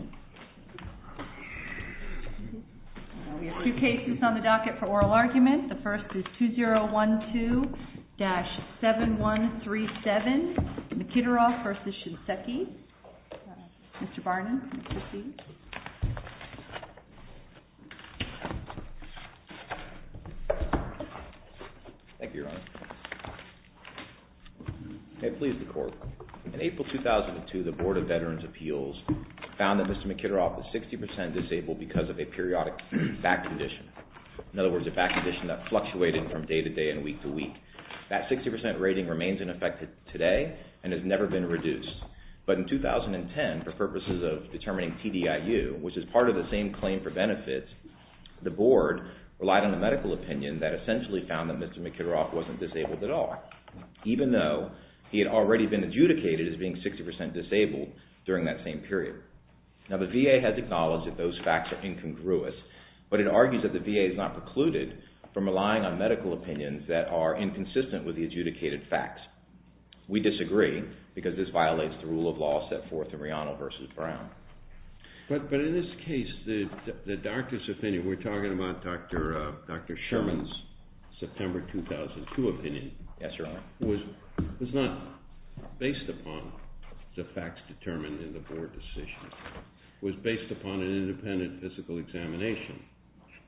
Mr. Barnum, would you proceed? Thank you, Your Honor. May it please the Court, In April 2002, the Board of Veterans' Appeals found that Mr. Mikitaroff was 60% disabled because of a periodic back condition. In other words, a back condition that fluctuated from day to day and week to week. That 60% rating remains in effect today and has never been reduced. But in 2010, for purposes of determining TDIU, which is part of the same claim for benefits, the Board relied on a medical opinion that essentially found that Mr. Mikitaroff wasn't disabled at all, even though he had already been adjudicated as being 60% disabled during that same period. Now, the VA has acknowledged that those facts are incongruous, but it argues that the VA is not precluded from relying on medical opinions that are inconsistent with the adjudicated facts. We disagree because this violates the rule of law set forth in Reano v. Brown. But in this case, the doctor's opinion, we're talking about Dr. Sherman's September 2002 opinion, was not based upon the facts determined in the Board decision. It was based upon an independent physical examination.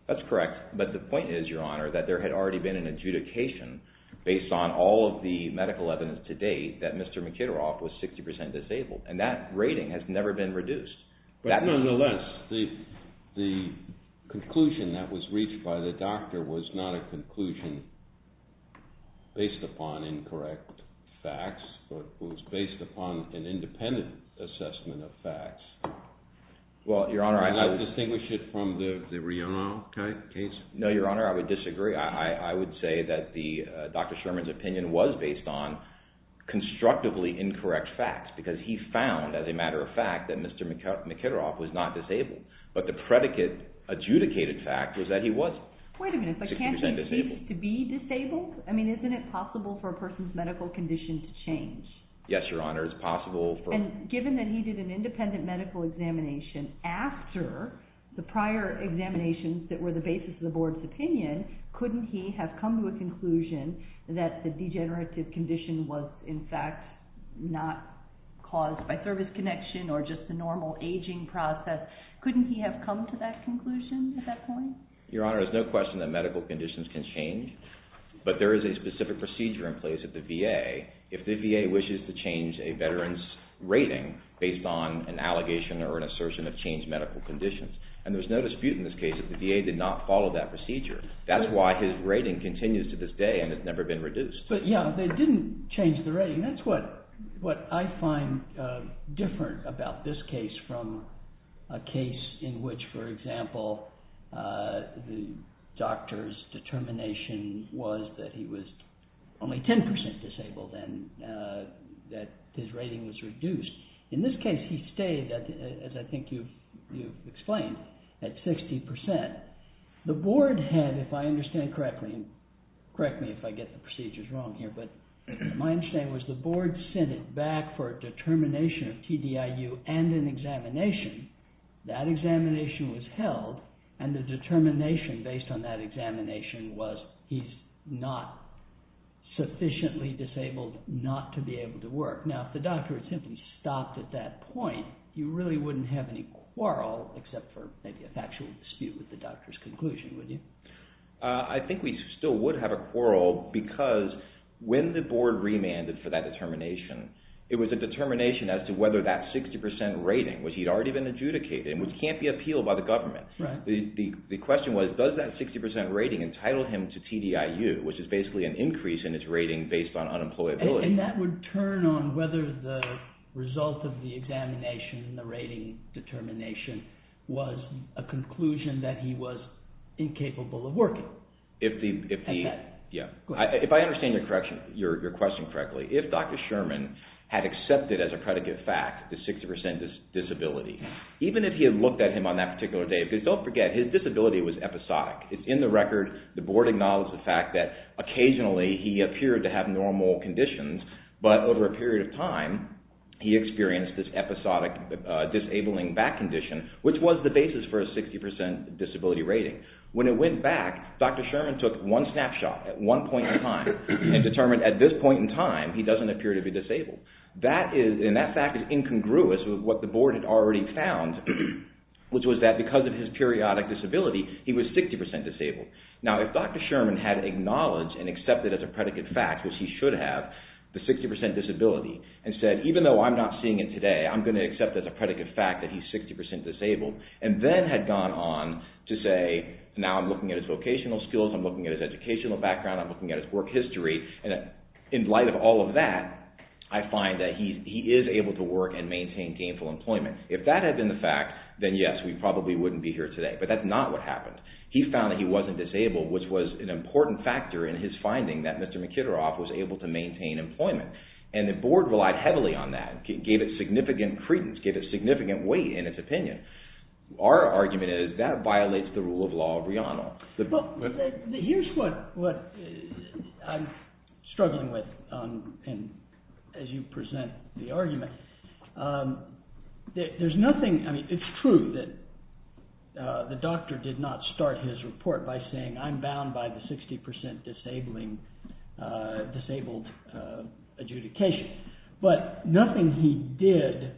That's correct, but the point is, Your Honor, that there had already been an adjudication based on all of the medical evidence to date that Mr. Mikitaroff was 60% disabled, and that rating has never been reduced. But nonetheless, the conclusion that was reached by the doctor was not a conclusion based upon incorrect facts, but was based upon an independent assessment of facts. Well, Your Honor, I... Did you not distinguish it from the Reano case? No, Your Honor, I would disagree. I would say that Dr. Sherman's opinion was based on constructively incorrect facts because he found, as a matter of fact, that Mr. Mikitaroff was not disabled. But the predicate adjudicated fact was that he wasn't. Wait a minute, but can't he be disabled? I mean, isn't it possible for a person's medical condition to change? Yes, Your Honor, it's possible for... And given that he did an independent medical examination after the prior examinations that were the basis of the Board's opinion, couldn't he have come to a conclusion that the degenerative condition was, in fact, not caused by service connection or just a normal aging process? Couldn't he have come to that conclusion at that point? Your Honor, there's no question that medical conditions can change, but there is a specific procedure in place at the VA if the VA wishes to change a veteran's rating based on an allegation or an assertion of changed medical conditions. And there's no dispute in this case that the VA did not follow that procedure. That's why his rating continues to this day and has never been reduced. But, yeah, they didn't change the rating. That's what I find different about this case from a case in which, for example, the doctor's determination was that he was only 10% disabled and that his rating was reduced. In this case, he stayed, as I think you've explained, at 60%. The Board had, if I understand correctly, and correct me if I get the procedures wrong here, but my understanding was the Board sent it back for a determination of TDIU and an examination. That examination was held, and the determination based on that examination was he's not sufficiently disabled not to be able to work. Now, if the doctor had simply stopped at that point, you really wouldn't have any quarrel except for maybe a factual dispute with the doctor's conclusion, would you? I think we still would have a quarrel because when the Board remanded for that determination, it was a determination as to whether that 60% rating, which he'd already been adjudicated, which can't be appealed by the government. The question was, does that 60% rating entitle him to TDIU, which is basically an increase in its rating based on unemployability. And that would turn on whether the result of the examination and the rating determination was a conclusion that he was incapable of working. If I understand your question correctly, if Dr. Sherman had accepted as a predicate fact the 60% disability, even if he had looked at him on that particular day, because don't forget, his disability was episodic. It's in the record, the Board acknowledged the fact that occasionally he appeared to have normal conditions, but over a period of time, he experienced this episodic disabling back condition, which was the basis for a 60% disability rating. When it went back, Dr. Sherman took one snapshot at one point in time and determined at this point in time, he doesn't appear to be disabled. And that fact is incongruous with what the Board had already found, which was that because of his periodic disability, he was 60% disabled. Now, if Dr. Sherman had acknowledged and accepted as a predicate fact, which he should have, the 60% disability, and said, even though I'm not seeing it today, I'm going to accept as a predicate fact that he's 60% disabled, and then had gone on to say, now I'm looking at his vocational skills, I'm looking at his educational background, I'm looking at his work history, in light of all of that, I find that he is able to work and maintain gainful employment. If that had been the fact, then yes, we probably wouldn't be here today. But that's not what happened. He found that he wasn't disabled, which was an important factor in his finding that Mr. Mkhitaryov was able to maintain employment. And the Board relied heavily on that, gave it significant credence, gave it significant weight in its opinion. Here's what I'm struggling with, as you present the argument. It's true that the doctor did not start his report by saying, I'm bound by the 60% disabled adjudication. But nothing he did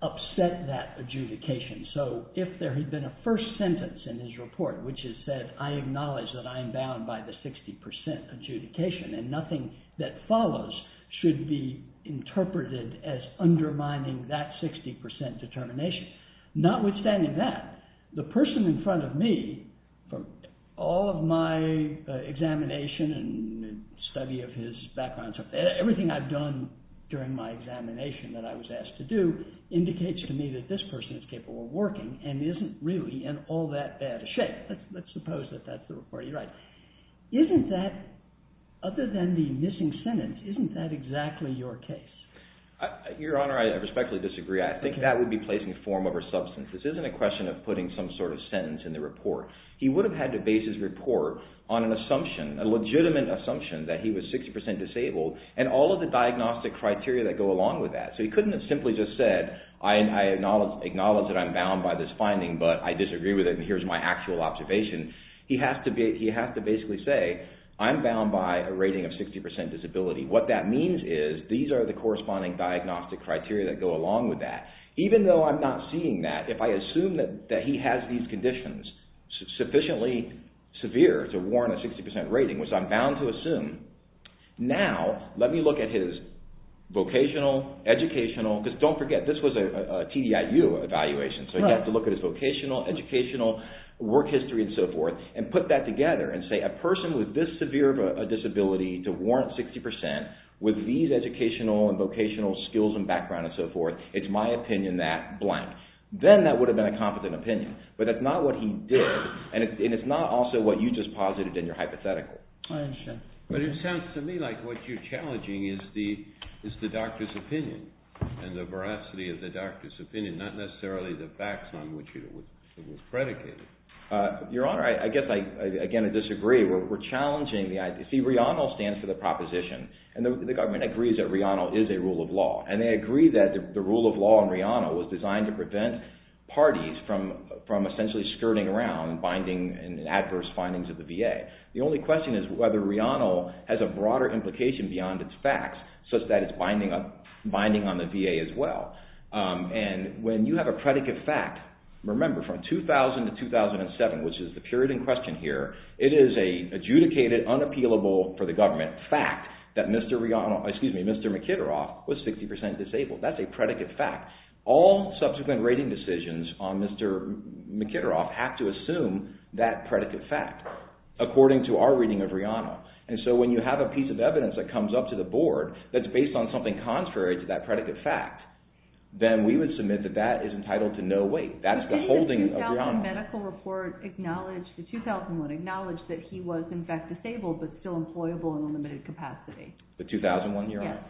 upset that adjudication. So if there had been a first sentence in his report which had said, I acknowledge that I am bound by the 60% adjudication, and nothing that follows should be interpreted as undermining that 60% determination. Notwithstanding that, the person in front of me, from all of my examination and study of his background, everything I've done during my examination that I was asked to do, indicates to me that this person is capable of working and isn't really in all that bad a shape. Let's suppose that that's the report you write. Isn't that, other than the missing sentence, isn't that exactly your case? Your Honor, I respectfully disagree. I think that would be placing form over substance. This isn't a question of putting some sort of sentence in the report. He would have had to base his report on an assumption, a legitimate assumption that he was 60% disabled, and all of the diagnostic criteria that go along with that. He couldn't have simply just said, I acknowledge that I'm bound by this finding, but I disagree with it, and here's my actual observation. He has to basically say, I'm bound by a rating of 60% disability. What that means is, these are the corresponding diagnostic criteria that go along with that. Even though I'm not seeing that, if I assume that he has these conditions sufficiently severe to warrant a 60% rating, which I'm bound to assume, now, let me look at his vocational, educational, because don't forget, this was a TDIU evaluation, so you have to look at his vocational, educational, work history, and so forth, and put that together and say, a person with this severe of a disability to warrant 60% with these educational and vocational skills and background and so forth, it's my opinion that blank. Then that would have been a competent opinion, but that's not what he did, and it's not also what you just posited in your hypothetical. I understand. But it sounds to me like what you're challenging is the doctor's opinion and the veracity of the doctor's opinion, not necessarily the facts on which it was predicated. Your Honor, I guess I, again, disagree. We're challenging the idea. See, RIANAL stands for the proposition, and the government agrees that RIANAL is a rule of law, and they agree that the rule of law in RIANAL was designed to prevent parties from essentially skirting around and binding adverse findings of the VA. The only question is whether RIANAL has a broader implication beyond its facts such that it's binding on the VA as well. And when you have a predicate fact, remember, from 2000 to 2007, which is the period in question here, it is an adjudicated, unappealable for the government fact that Mr. McKitteroff was 60% disabled. That's a predicate fact. All subsequent rating decisions on Mr. McKitteroff have to assume that predicate fact. According to our reading of RIANAL. And so when you have a piece of evidence that comes up to the board that's based on something contrary to that predicate fact, then we would submit that that is entitled to no weight. That's the holding of RIANAL. The 2001 medical report acknowledged that he was in fact disabled but still employable in a limited capacity. The 2001 year? Yes.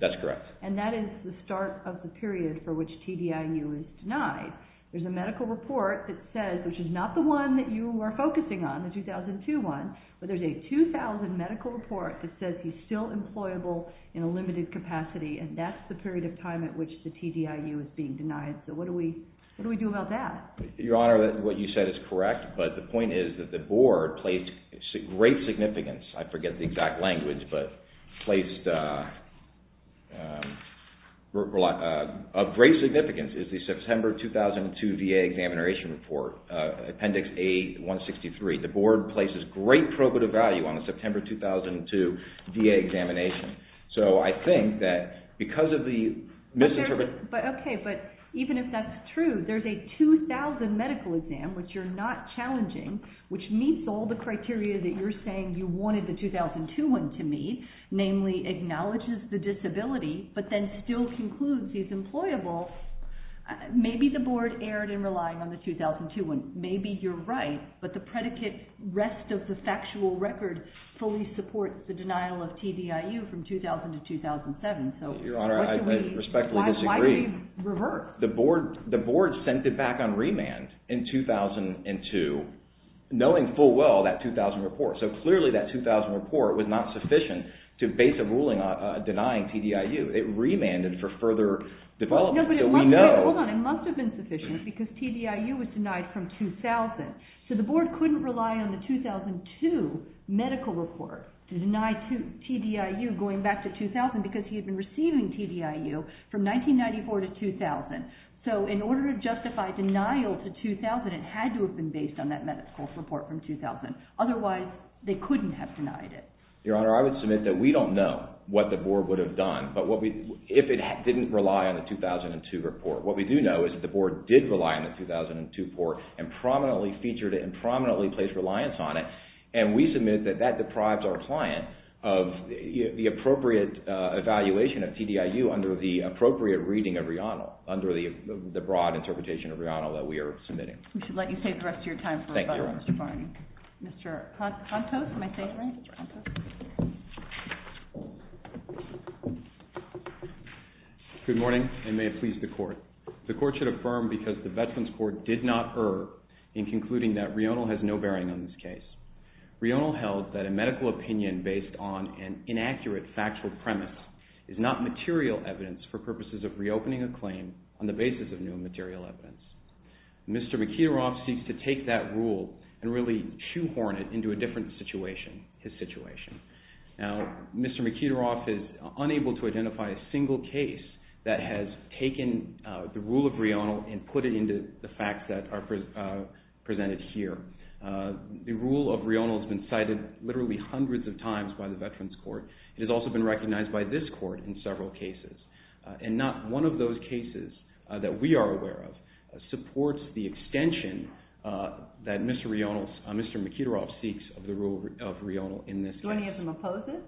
That's correct. And that is the start of the period for which TDIU is denied. There's a medical report that says, which is not the one that you were focusing on, the 2002 one, but there's a 2000 medical report that says he's still employable in a limited capacity, and that's the period of time at which the TDIU is being denied. So what do we do about that? Your Honor, what you said is correct, but the point is that the board placed great significance. I forget the exact language, but placed great significance. The September 2002 VA examination report, Appendix A-163. The board places great probative value on the September 2002 VA examination. So I think that because of the misinterpretation... Okay, but even if that's true, there's a 2000 medical exam, which you're not challenging, which meets all the criteria that you're saying you wanted the 2002 one to meet, namely acknowledges the disability, but then still concludes he's employable, maybe the board erred in relying on the 2002 one. Maybe you're right, but the predicate rest of the factual record fully supports the denial of TDIU from 2000 to 2007. Your Honor, I respectfully disagree. Why did they revert? The board sent it back on remand in 2002, knowing full well that 2000 report. So clearly that 2000 report was not sufficient to base a ruling denying TDIU. It remanded for further development. No, but it must have been sufficient because TDIU was denied from 2000. So the board couldn't rely on the 2002 medical report to deny TDIU going back to 2000 because he had been receiving TDIU from 1994 to 2000. So in order to justify denial to 2000, it had to have been based on that medical report from 2000. Otherwise, they couldn't have denied it. Your Honor, I would submit that we don't know what the board would have done if it didn't rely on the 2002 report. What we do know is that the board did rely on the 2002 report and prominently featured it and prominently placed reliance on it, and we submit that that deprives our client of the appropriate evaluation of TDIU under the appropriate reading of Rihannul under the broad interpretation of Rihannul that we are submitting. We should let you save the rest of your time for another one, Mr. Barney. Mr. Contos, am I saying it right? Good morning, and may it please the Court. The Court should affirm because the Veterans Court did not err in concluding that Rihannul has no bearing on this case. Rihannul held that a medical opinion based on an inaccurate factual premise is not material evidence for purposes of reopening a claim on the basis of new material evidence. Mr. McIntyre seeks to take that rule and really shoehorn it into a different situation, his situation. Now, Mr. McIntyre is unable to identify a single case that has taken the rule of Rihannul and put it into the facts that are presented here. The rule of Rihannul has been cited literally hundreds of times by the Veterans Court. It has also been recognized by this Court in several cases, and not one of those cases that we are aware of supports the extension that Mr. McIntyre seeks of the rule of Rihannul in this case. Do any of them oppose it?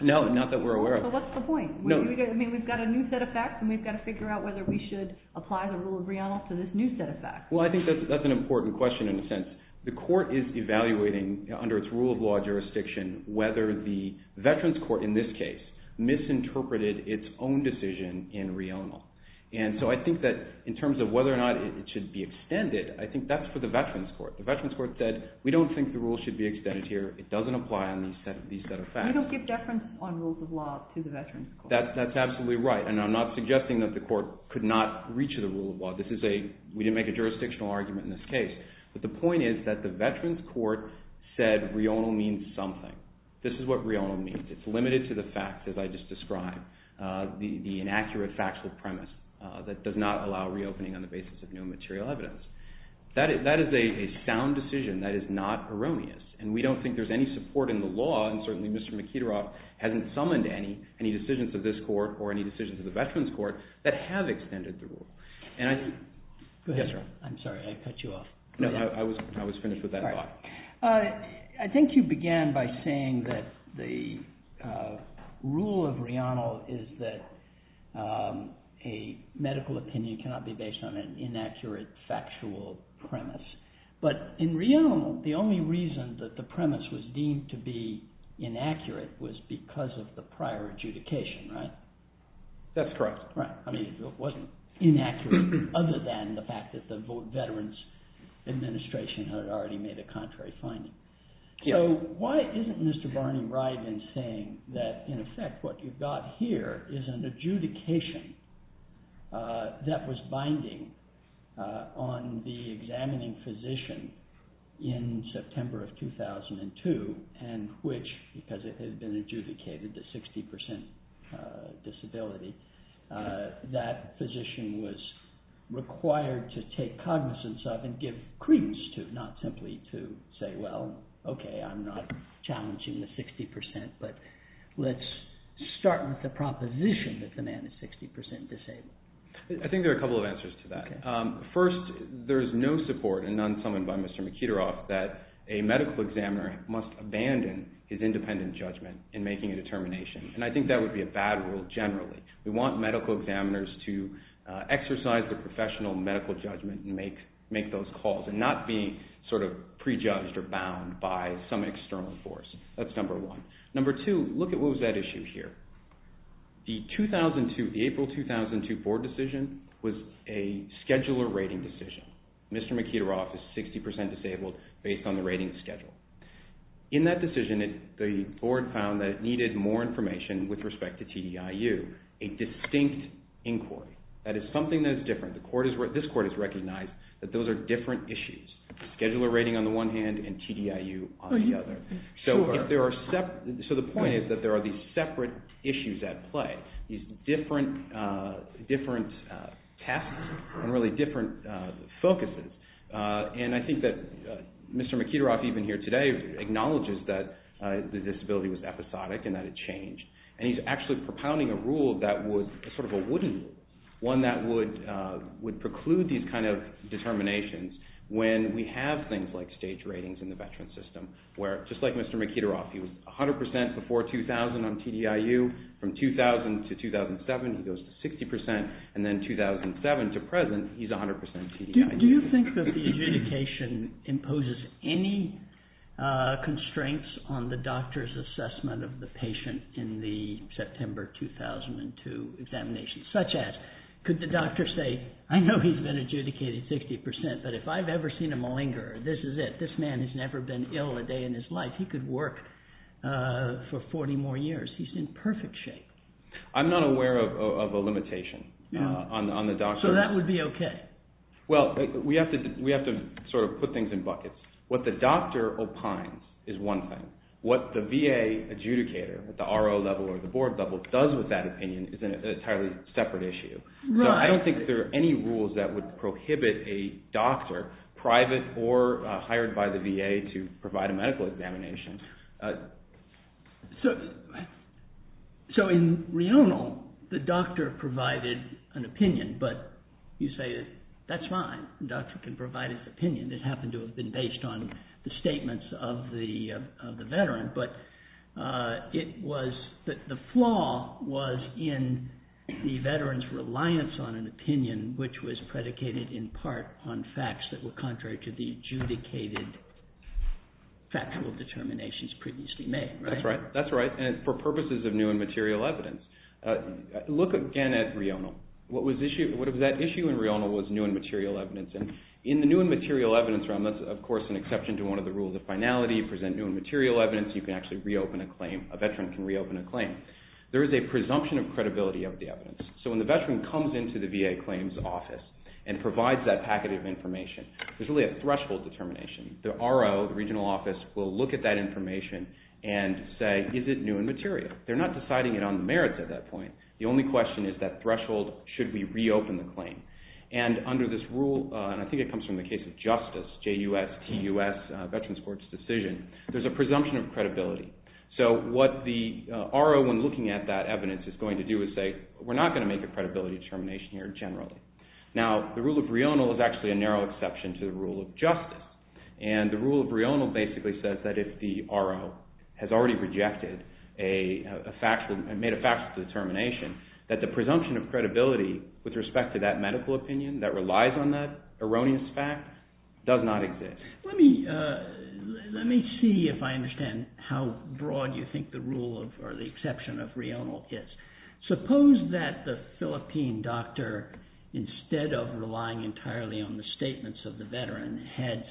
No, not that we're aware of. So what's the point? We've got a new set of facts and we've got to figure out whether we should apply the rule of Rihannul to this new set of facts. Well, I think that's an important question in a sense. The Court is evaluating under its rule of law jurisdiction whether the Veterans Court in this case misinterpreted its own decision in Rihannul. And so I think that in terms of whether or not it should be extended, I think that's for the Veterans Court. The Veterans Court said, we don't think the rule should be extended here. It doesn't apply on these set of facts. We don't give deference on rules of law to the Veterans Court. That's absolutely right, and I'm not suggesting that the Court could not reach the rule of law. We didn't make a jurisdictional argument in this case. But the point is that the Veterans Court said Rihannul means something. This is what Rihannul means. It's limited to the facts as I just described, the inaccurate factual premise that does not allow reopening on the basis of new material evidence. That is a sound decision. That is not erroneous. And we don't think there's any support in the law, and certainly Mr. McIntyre hasn't summoned any, any decisions of this Court or any decisions of the Veterans Court that have extended the rule. Yes, sir. I'm sorry, I cut you off. No, I was finished with that thought. I think you began by saying that the rule of Rihannul is that a medical opinion cannot be based on an inaccurate factual premise. But in Rihannul, the only reason that the premise was deemed to be inaccurate was because of the prior adjudication, right? That's correct. I mean, it wasn't inaccurate other than the fact that the Veterans Administration had already made a contrary finding. Yeah. So why isn't Mr. Barney Ryden saying that, in effect, what you've got here is an adjudication that was binding on the examining physician in September of 2002 and which, because it had been adjudicated to 60% disability, that physician was required to take cognizance of and give credence to, not simply to say, well, okay, I'm not challenging the 60%, but let's start with the proposition that the man is 60% disabled. I think there are a couple of answers to that. First, there is no support, and none summoned by Mr. McIntyre, that a medical examiner must abandon his independent judgment in making a determination. And I think that would be a bad rule generally. We want medical examiners to exercise their professional medical judgment and make those calls and not be sort of prejudged or bound by some external force. That's number one. Number two, look at what was that issue here. The April 2002 board decision was a scheduler rating decision. Mr. McIntyre is 60% disabled based on the rating schedule. In that decision, the board found that it needed more information with respect to TDIU, a distinct inquiry. That is something that is different. This court has recognized that those are different issues, scheduler rating on the one hand and TDIU on the other. So the point is that there are these separate issues at play, these different tests and really different focuses. And I think that Mr. McIntyre, even here today, acknowledges that the disability was episodic and that it changed. And he's actually propounding a rule that was sort of a wooden rule, one that would preclude these kind of determinations when we have things like stage ratings in the veteran system where, just like Mr. McIntyre, he was 100% before 2000 on TDIU. From 2000 to 2007, he goes to 60%. And then 2007 to present, he's 100% TDIU. Do you think that the adjudication imposes any constraints on the doctor's assessment of the patient in the September 2002 examination? Such as, could the doctor say, I know he's been adjudicated 60%, but if I've ever seen a malingerer, this is it. This man has never been ill a day in his life. He could work for 40 more years. He's in perfect shape. I'm not aware of a limitation on the doctor. So that would be okay? Well, we have to sort of put things in buckets. What the doctor opines is one thing. What the VA adjudicator, at the RO level or the board level, does with that opinion is an entirely separate issue. I don't think there are any rules that would prohibit a doctor, private or hired by the VA, to provide a medical examination. So in reonal, the doctor provided an opinion, but you say, that's fine. The doctor can provide his opinion. It happened to have been based on the statements of the veteran. But the flaw was in the veteran's reliance on an opinion, which was predicated in part on facts that were contrary to the adjudicated factual determinations previously made. That's right. And it's for purposes of new and material evidence. Look again at reonal. That issue in reonal was new and material evidence. In the new and material evidence realm, that's, of course, an exception to one of the rules of finality. You present new and material evidence, you can actually reopen a claim. A veteran can reopen a claim. There is a presumption of credibility of the evidence. So when the veteran comes into the VA claims office and provides that packet of information, there's really a threshold determination. The RO, the regional office, will look at that information and say, is it new and material? They're not deciding it on the merits at that point. The only question is that threshold, should we reopen the claim? And under this rule, and I think it comes from the case of justice, JUS, TUS, Veterans Court's decision, there's a presumption of credibility. So what the RO, when looking at that evidence, is going to do is say, we're not going to make a credibility determination here generally. Now, the rule of reonal is actually a narrow exception to the rule of justice. And the rule of reonal basically says that if the RO has already rejected a fact, made a factual determination, that the presumption of credibility with respect to that medical opinion that relies on that erroneous fact does not exist. Let me see if I understand how broad you think the rule of, or the exception of reonal is. Suppose that the Philippine doctor, instead of relying entirely on the statements of the veteran, had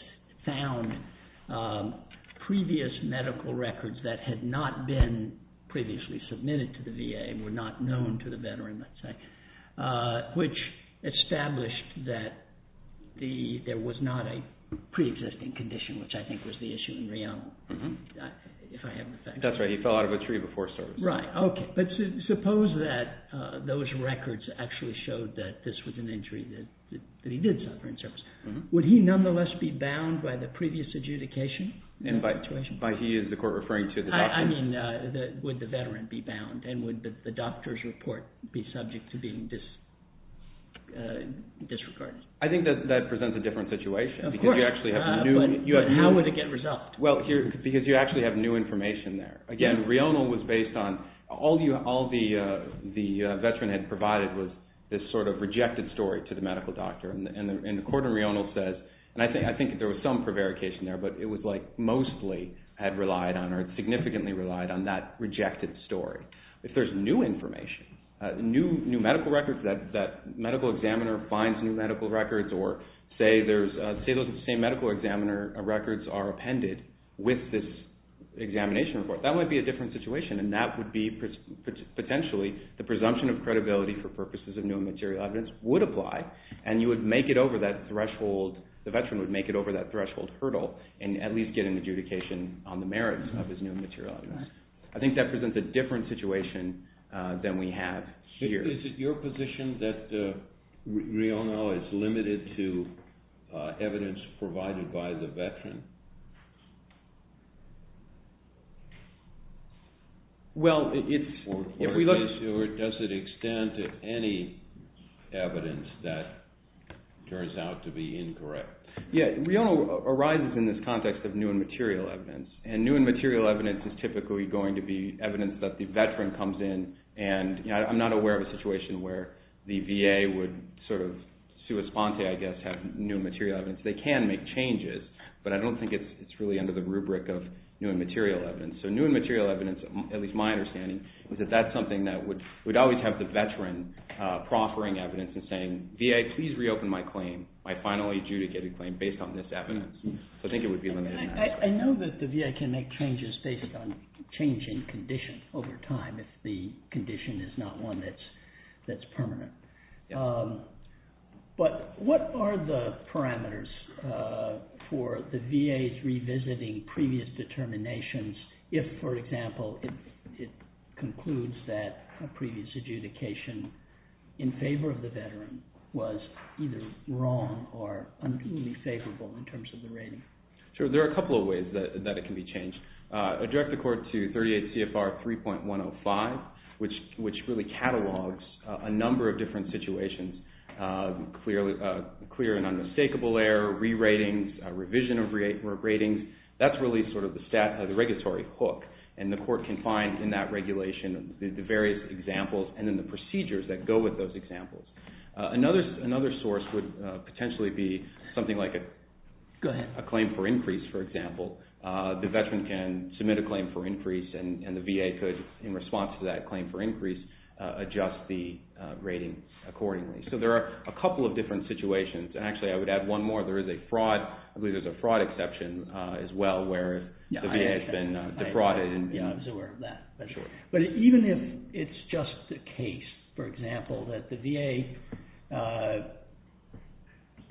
found previous medical records that had not been previously submitted to the VA and were not known to the veteran, let's say, which established that there was not a pre-existing condition, which I think was the issue in reonal, if I have the facts. That's right, he fell out of a tree before service. Right, okay. But suppose that those records actually showed that this was an injury, that he did suffer in service. Would he nonetheless be bound by the previous adjudication? And by he, is the court referring to the doctors? I mean, would the veteran be bound? And would the doctor's report be subject to being disregarded? I think that presents a different situation. Of course. Because you actually have new... How would it get resolved? Well, because you actually have new information there. Again, reonal was based on all the veteran had provided was this sort of rejected story to the medical doctor. And the court in reonal says, and I think there was some prevarication there, but it was like mostly had relied on or significantly relied on that rejected story. If there's new information, new medical records, that medical examiner finds new medical records or say those same medical examiner records are appended with this examination report, that might be a different situation. And that would be potentially the presumption of credibility for purposes of new and material evidence would apply. And you would make it over that threshold, the veteran would make it over that threshold hurdle and at least get an adjudication on the merits of his new and material evidence. I think that presents a different situation than we have here. Is it your position that reonal is limited to evidence provided by the veteran? Well, if we look... Or does it extend to any evidence that turns out to be incorrect? Yeah, reonal arises in this context of new and material evidence. And new and material evidence is typically going to be evidence that the veteran comes in and I'm not aware of a situation where the VA would sort of sui sponte, I guess, have new and material evidence. They can make changes, but I don't think it's really under the rubric of new and material evidence. So new and material evidence, at least my understanding, is that that's something that would always have the veteran proffering evidence and saying, VA, please reopen my claim, my finally adjudicated claim based on this evidence. So I think it would be limited in that sense. I know that the VA can make changes based on changing conditions over time if the condition is not one that's permanent. But what are the parameters for the VA's revisiting previous determinations if, for example, it concludes that a previous adjudication in favor of the veteran was either wrong or unfavorable in terms of the rating? Sure, there are a couple of ways that it can be changed. Direct the court to 38 CFR 3.105, which really catalogs a number of different situations, clear and unmistakable error, re-ratings, revision of ratings. That's really sort of the regulatory hook, and the court can find in that regulation the various examples and then the procedures that go with those examples. Another source would potentially be something like a claim for increase, for example. The veteran can submit a claim for increase and the VA could, in response to that claim for increase, adjust the rating accordingly. So there are a couple of different situations. Actually, I would add one more. There is a fraud. I believe there's a fraud exception as well where the VA has been defrauded. I was aware of that. But even if it's just a case, for example, that the VA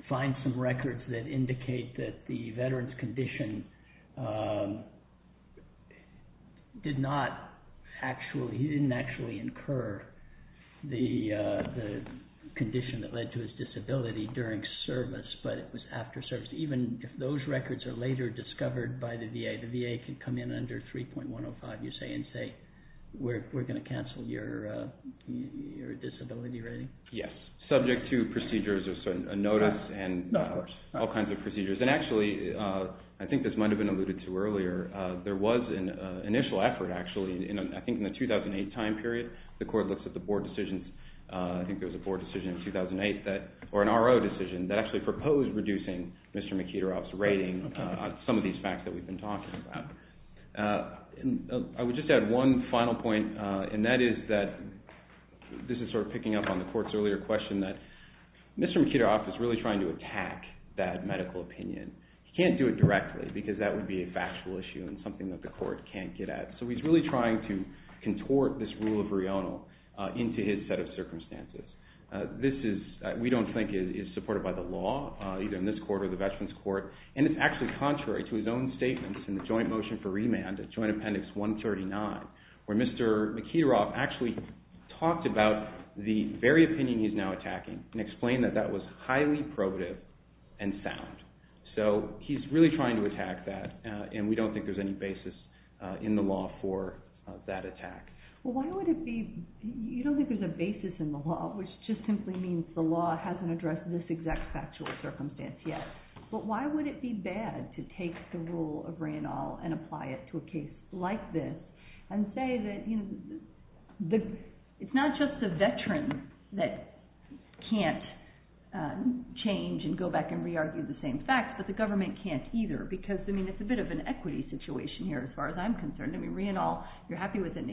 finds some records that indicate that the veteran's condition did not actually, he didn't actually incur the condition that led to his disability during service, but it was after service. Even if those records are later discovered by the VA, the VA can come in under 3.105, you say, and say, we're going to cancel your disability rating? Yes. Subject to procedures, a notice, and all kinds of procedures. And actually, I think this might have been alluded to earlier, there was an initial effort, actually, I think in the 2008 time period. The court looks at the board decisions. I think there was a board decision in 2008, or an RO decision, that actually proposed reducing Mr. McIntyre's rating on some of these facts that we've been talking about. I would just add one final point, and that is that, this is sort of picking up on the court's earlier question, that Mr. McIntyre is really trying to attack that medical opinion. He can't do it directly because that would be a factual issue and something that the court can't get at. So he's really trying to contort this rule of RIONAL into his set of circumstances. This is, we don't think, is supported by the law, either in this court or the Veterans Court. And it's actually contrary to his own statements in the joint motion for remand, Joint Appendix 139, where Mr. McIntyre actually talked about the very opinion he's now attacking and explained that that was highly probative and sound. So he's really trying to attack that, and we don't think there's any basis in the law for that attack. Well, why would it be? You don't think there's a basis in the law, which just simply means the law hasn't addressed this exact factual circumstance yet. But why would it be bad to take the rule of RIONAL and apply it to a case like this and say that it's not just the veterans that can't change and go back and re-argue the same facts, but the government can't either, because it's a bit of an equity situation here, as far as I'm concerned. I mean, RIONAL, you're happy with it.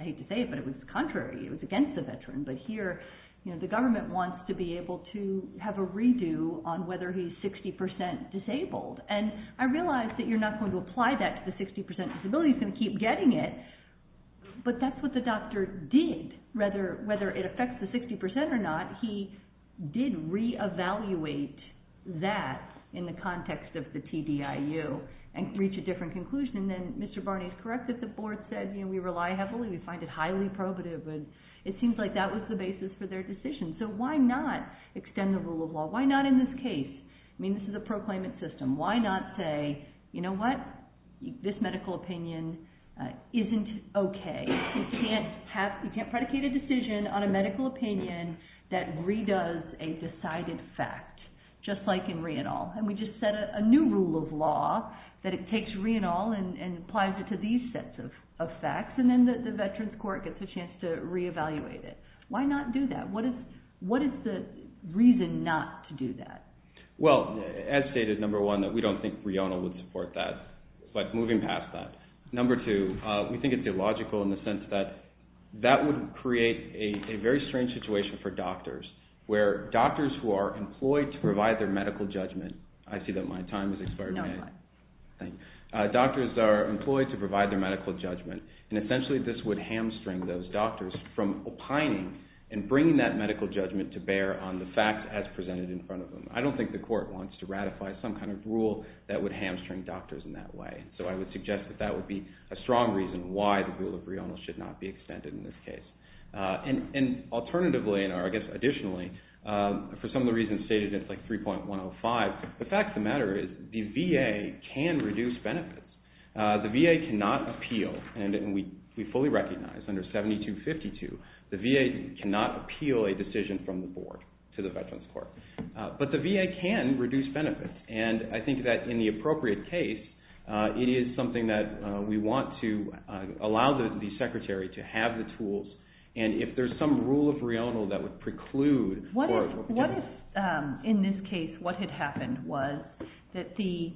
I hate to say it, but it was the contrary. It was against the veterans. But here, the government wants to be able to have a redo on whether he's 60% disabled. And I realize that you're not going to apply that to the 60% disability. You're going to keep getting it. But that's what the doctor did. Whether it affects the 60% or not, he did re-evaluate that in the context of the TDIU and reach a different conclusion. And Mr. Barney is correct that the board said, you know, we rely heavily, we find it highly probative. So why not extend the rule of law? Why not in this case? I mean, this is a proclaimant system. Why not say, you know what? This medical opinion isn't okay. You can't predicate a decision on a medical opinion that re-does a decided fact, just like in RIONAL. And we just set a new rule of law that it takes RIONAL and applies it to these sets of facts, and then the veterans court gets a chance to re-evaluate it. Why not do that? What is the reason not to do that? Well, as stated, number one, that we don't think RIONAL would support that. But moving past that, number two, we think it's illogical in the sense that that would create a very strange situation for doctors, where doctors who are employed to provide their medical judgment. I see that my time has expired. Doctors are employed to provide their medical judgment, and essentially this would hamstring those doctors from opining and bringing that medical judgment to bear on the facts as presented in front of them. I don't think the court wants to ratify some kind of rule that would hamstring doctors in that way. So I would suggest that that would be a strong reason why the rule of RIONAL should not be extended in this case. And alternatively, or I guess additionally, for some of the reasons stated in 3.105, the fact of the matter is the VA can reduce benefits. The VA cannot appeal, and we fully recognize under 7252, the VA cannot appeal a decision from the board to the Veterans Court. But the VA can reduce benefits, and I think that in the appropriate case, it is something that we want to allow the secretary to have the tools, and if there's some rule of RIONAL that would preclude... What if, in this case, what had happened was that the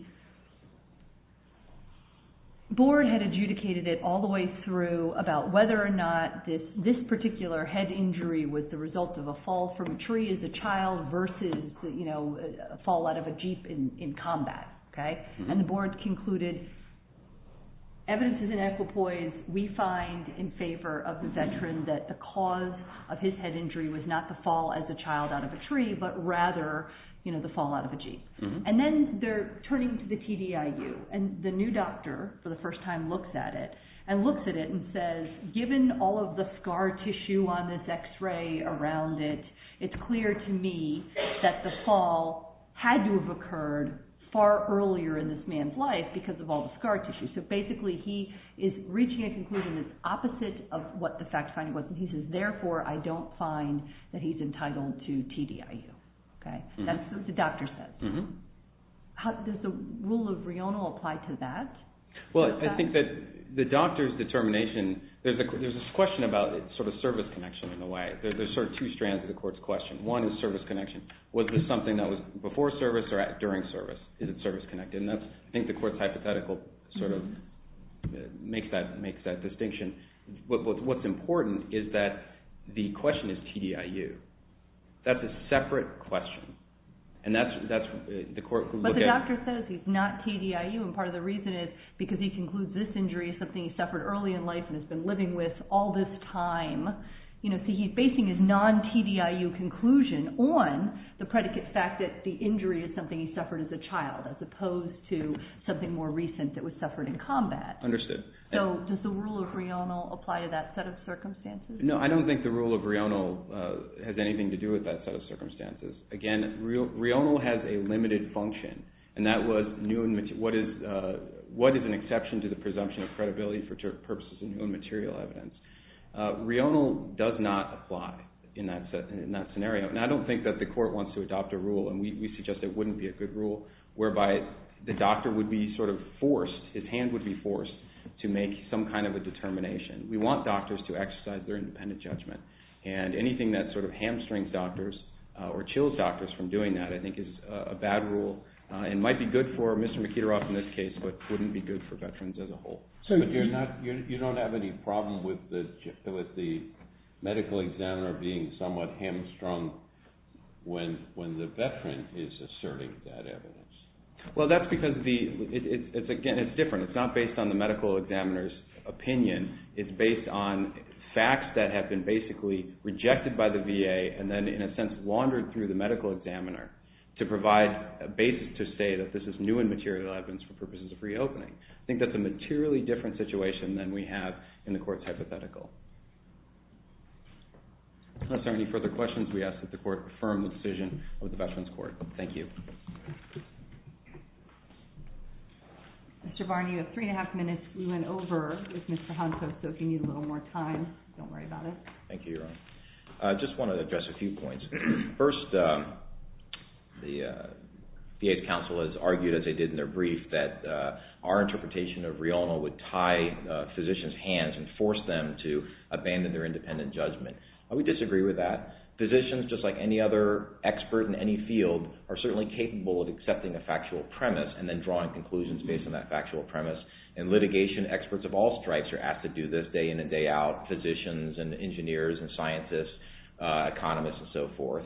board had adjudicated it all the way through about whether or not this particular head injury was the result of a fall from a tree as a child versus, you know, a fall out of a Jeep in combat, okay? And the board concluded, evidence is in equipoise. We find in favor of the veteran that the cause of his head injury was not the fall as a child out of a tree, but rather, you know, the fall out of a Jeep. And then they're turning to the TDIU, and the new doctor, for the first time, looks at it, and looks at it and says, given all of the scar tissue on this X-ray around it, it's clear to me that the fall had to have occurred far earlier in this man's life because of all the scar tissue. So basically, he is reaching a conclusion that's opposite of what the fact finding was, and he says, therefore, I don't find that he's entitled to TDIU, okay? That's what the doctor said. Does the rule of RIONA apply to that? Well, I think that the doctor's determination, there's a question about sort of service connection in a way. There's sort of two strands of the court's question. One is service connection. Was this something that was before service or during service? Is it service connected? And I think the court's hypothetical sort of makes that distinction. What's important is that the question is TDIU. That's a separate question. But the doctor says he's not TDIU, and part of the reason is because he concludes this injury is something he suffered early in life and has been living with all this time. So he's facing his non-TDIU conclusion on the predicate fact that the injury is something he suffered as a child as opposed to something more recent that was suffered in combat. So does the rule of RIONA apply to that set of circumstances? No, I don't think the rule of RIONA has anything to do with that set of circumstances. Again, RIONA has a limited function, and that was what is an exception to the presumption of credibility for purposes of new and material evidence. RIONA does not apply in that scenario, and I don't think that the court wants to adopt a rule, and we suggest it wouldn't be a good rule, whereby the doctor would be sort of forced, his hand would be forced, to make some kind of a determination. We want doctors to exercise their independent judgment, and anything that sort of hamstrings doctors or chills doctors from doing that, I think is a bad rule and might be good for Mr. Mikitarov in this case, but wouldn't be good for veterans as a whole. So you don't have any problem with the medical examiner being somewhat hamstrung when the veteran is asserting that evidence? Well, that's because, again, it's different. It's not based on the medical examiner's opinion. It's based on facts that have been basically rejected by the VA and then, in a sense, wandered through the medical examiner to provide a basis to say that this is new and material evidence for purposes of reopening. I think that's a materially different situation than we have in the court's hypothetical. If there are any further questions, we ask that the court affirm the decision of the Veterans Court. Thank you. Mr. Varney, you have 3 1⁄2 minutes. We went over with Mr. Honto, so if you need a little more time, don't worry about it. Thank you, Your Honor. I just want to address a few points. First, the VA's counsel has argued, as they did in their brief, that our interpretation of RIONA would tie physicians' hands and force them to abandon their independent judgment. We disagree with that. Physicians, just like any other expert in any field, are certainly capable of accepting a factual premise and then drawing conclusions based on that factual premise and litigation experts of all stripes are asked to do this day in and day out, physicians and engineers and scientists, economists and so forth.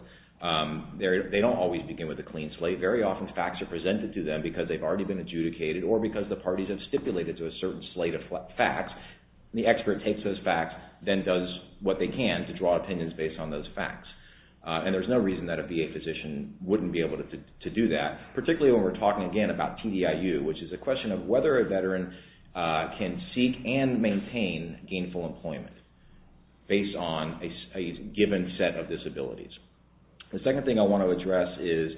They don't always begin with a clean slate. Very often, facts are presented to them because they've already been adjudicated or because the parties have stipulated to a certain slate of facts. The expert takes those facts, then does what they can to draw opinions based on those facts. And there's no reason that a VA physician wouldn't be able to do that, particularly when we're talking, again, about TDIU, which is a question of whether a veteran can seek and maintain gainful employment based on a given set of disabilities. The second thing I want to address is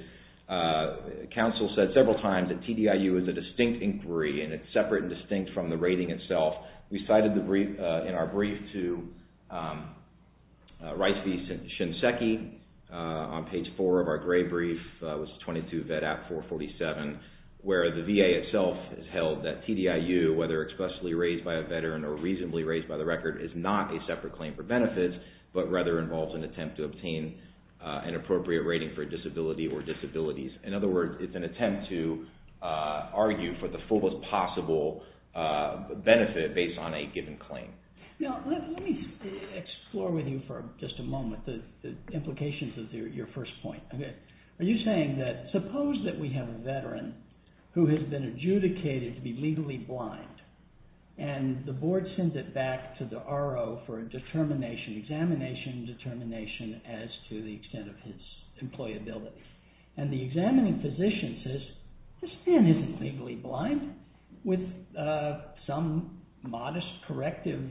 counsel said several times that TDIU is a distinct inquiry and it's separate and distinct from the rating itself. We cited in our brief to Rice v. Shinseki on page 4 of our gray brief, which is 22 VET Act 447, where the VA itself has held that TDIU, whether expressly raised by a veteran or reasonably raised by the record, is not a separate claim for benefits, but rather involves an attempt to obtain an appropriate rating for a disability or disabilities. In other words, it's an attempt to argue for the fullest possible benefit based on a given claim. Now, let me explore with you for just a moment the implications of your first point. Are you saying that suppose that we have a veteran who has been adjudicated to be legally blind and the board sends it back to the RO for a determination, examination determination as to the extent of his employability. And the examining physician says, this man isn't legally blind. With some modest corrective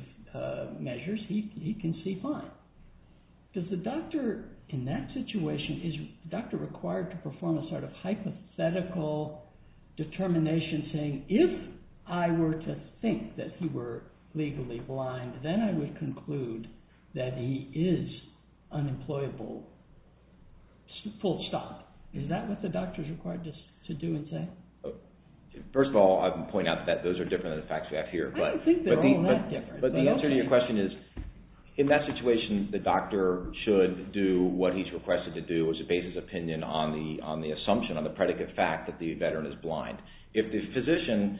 measures, he can see fine. Does the doctor in that situation, is the doctor required to perform a sort of hypothetical determination saying, if I were to think that he were legally blind, then I would conclude that he is unemployable. Full stop. Is that what the doctor is required to do and say? First of all, I would point out that those are different than the facts we have here. I don't think they're all that different. But the answer to your question is, in that situation, the doctor should do what he's requested to do, which is base his opinion on the assumption, on the predicate fact that the veteran is blind. If the physician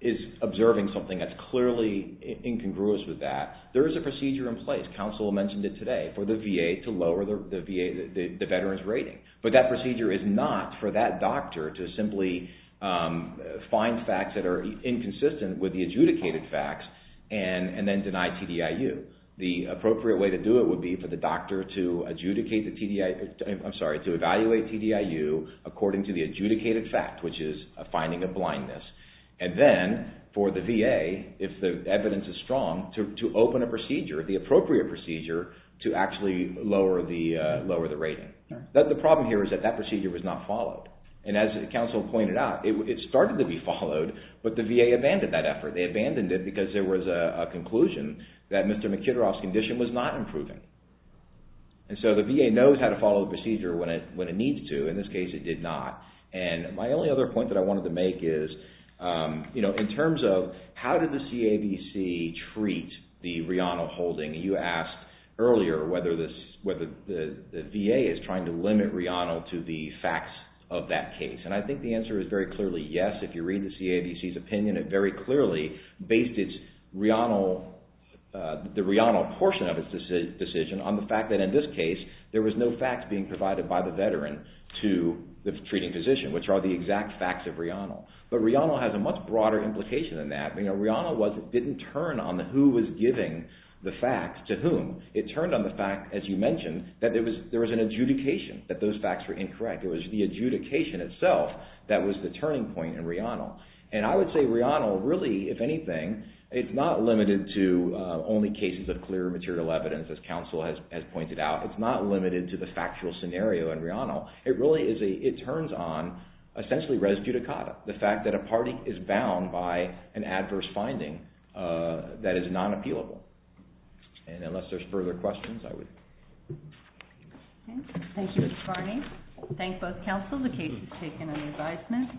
is observing something that's clearly incongruous with that, there is a procedure in place, counsel mentioned it today, for the VA to lower the veteran's rating. But that procedure is not for that doctor to simply find facts that are inconsistent with the adjudicated facts and then deny TDIU. The appropriate way to do it would be for the doctor to adjudicate the TDIU, I'm sorry, to evaluate TDIU according to the adjudicated fact, which is a finding of blindness. And then, for the VA, if the evidence is strong, to open a procedure, the appropriate procedure, to actually lower the rating. The problem here is that that procedure was not followed. And as counsel pointed out, it started to be followed, but the VA abandoned that effort. They abandoned it because there was a conclusion that Mr. Mkhitaryov's condition was not improving. And so the VA knows how to follow the procedure when it needs to. In this case, it did not. And my only other point that I wanted to make is, you know, in terms of how did the CAVC treat the Reano holding? You asked earlier whether the VA is trying to limit Reano to the facts of that case. And I think the answer is very clearly yes. If you read the CAVC's opinion, it very clearly based its Reano, the Reano portion of its decision, on the fact that in this case, there was no facts being provided by the veteran to the treating physician, which are the exact facts of Reano. But Reano has a much broader implication than that. Reano didn't turn on who was giving the facts to whom. It turned on the fact, as you mentioned, that there was an adjudication that those facts were incorrect. It was the adjudication itself that was the turning point in Reano. And I would say Reano really, if anything, it's not limited to only cases of clear material evidence, as counsel has pointed out. It's not limited to the factual scenario in Reano. It really is a, it turns on, essentially, res judicata. The fact that a party is bound by an adverse finding that is non-appealable. And unless there's further questions, I would... Thank you, Mr. Carney. Thank both counsels. The case is taken under advisement.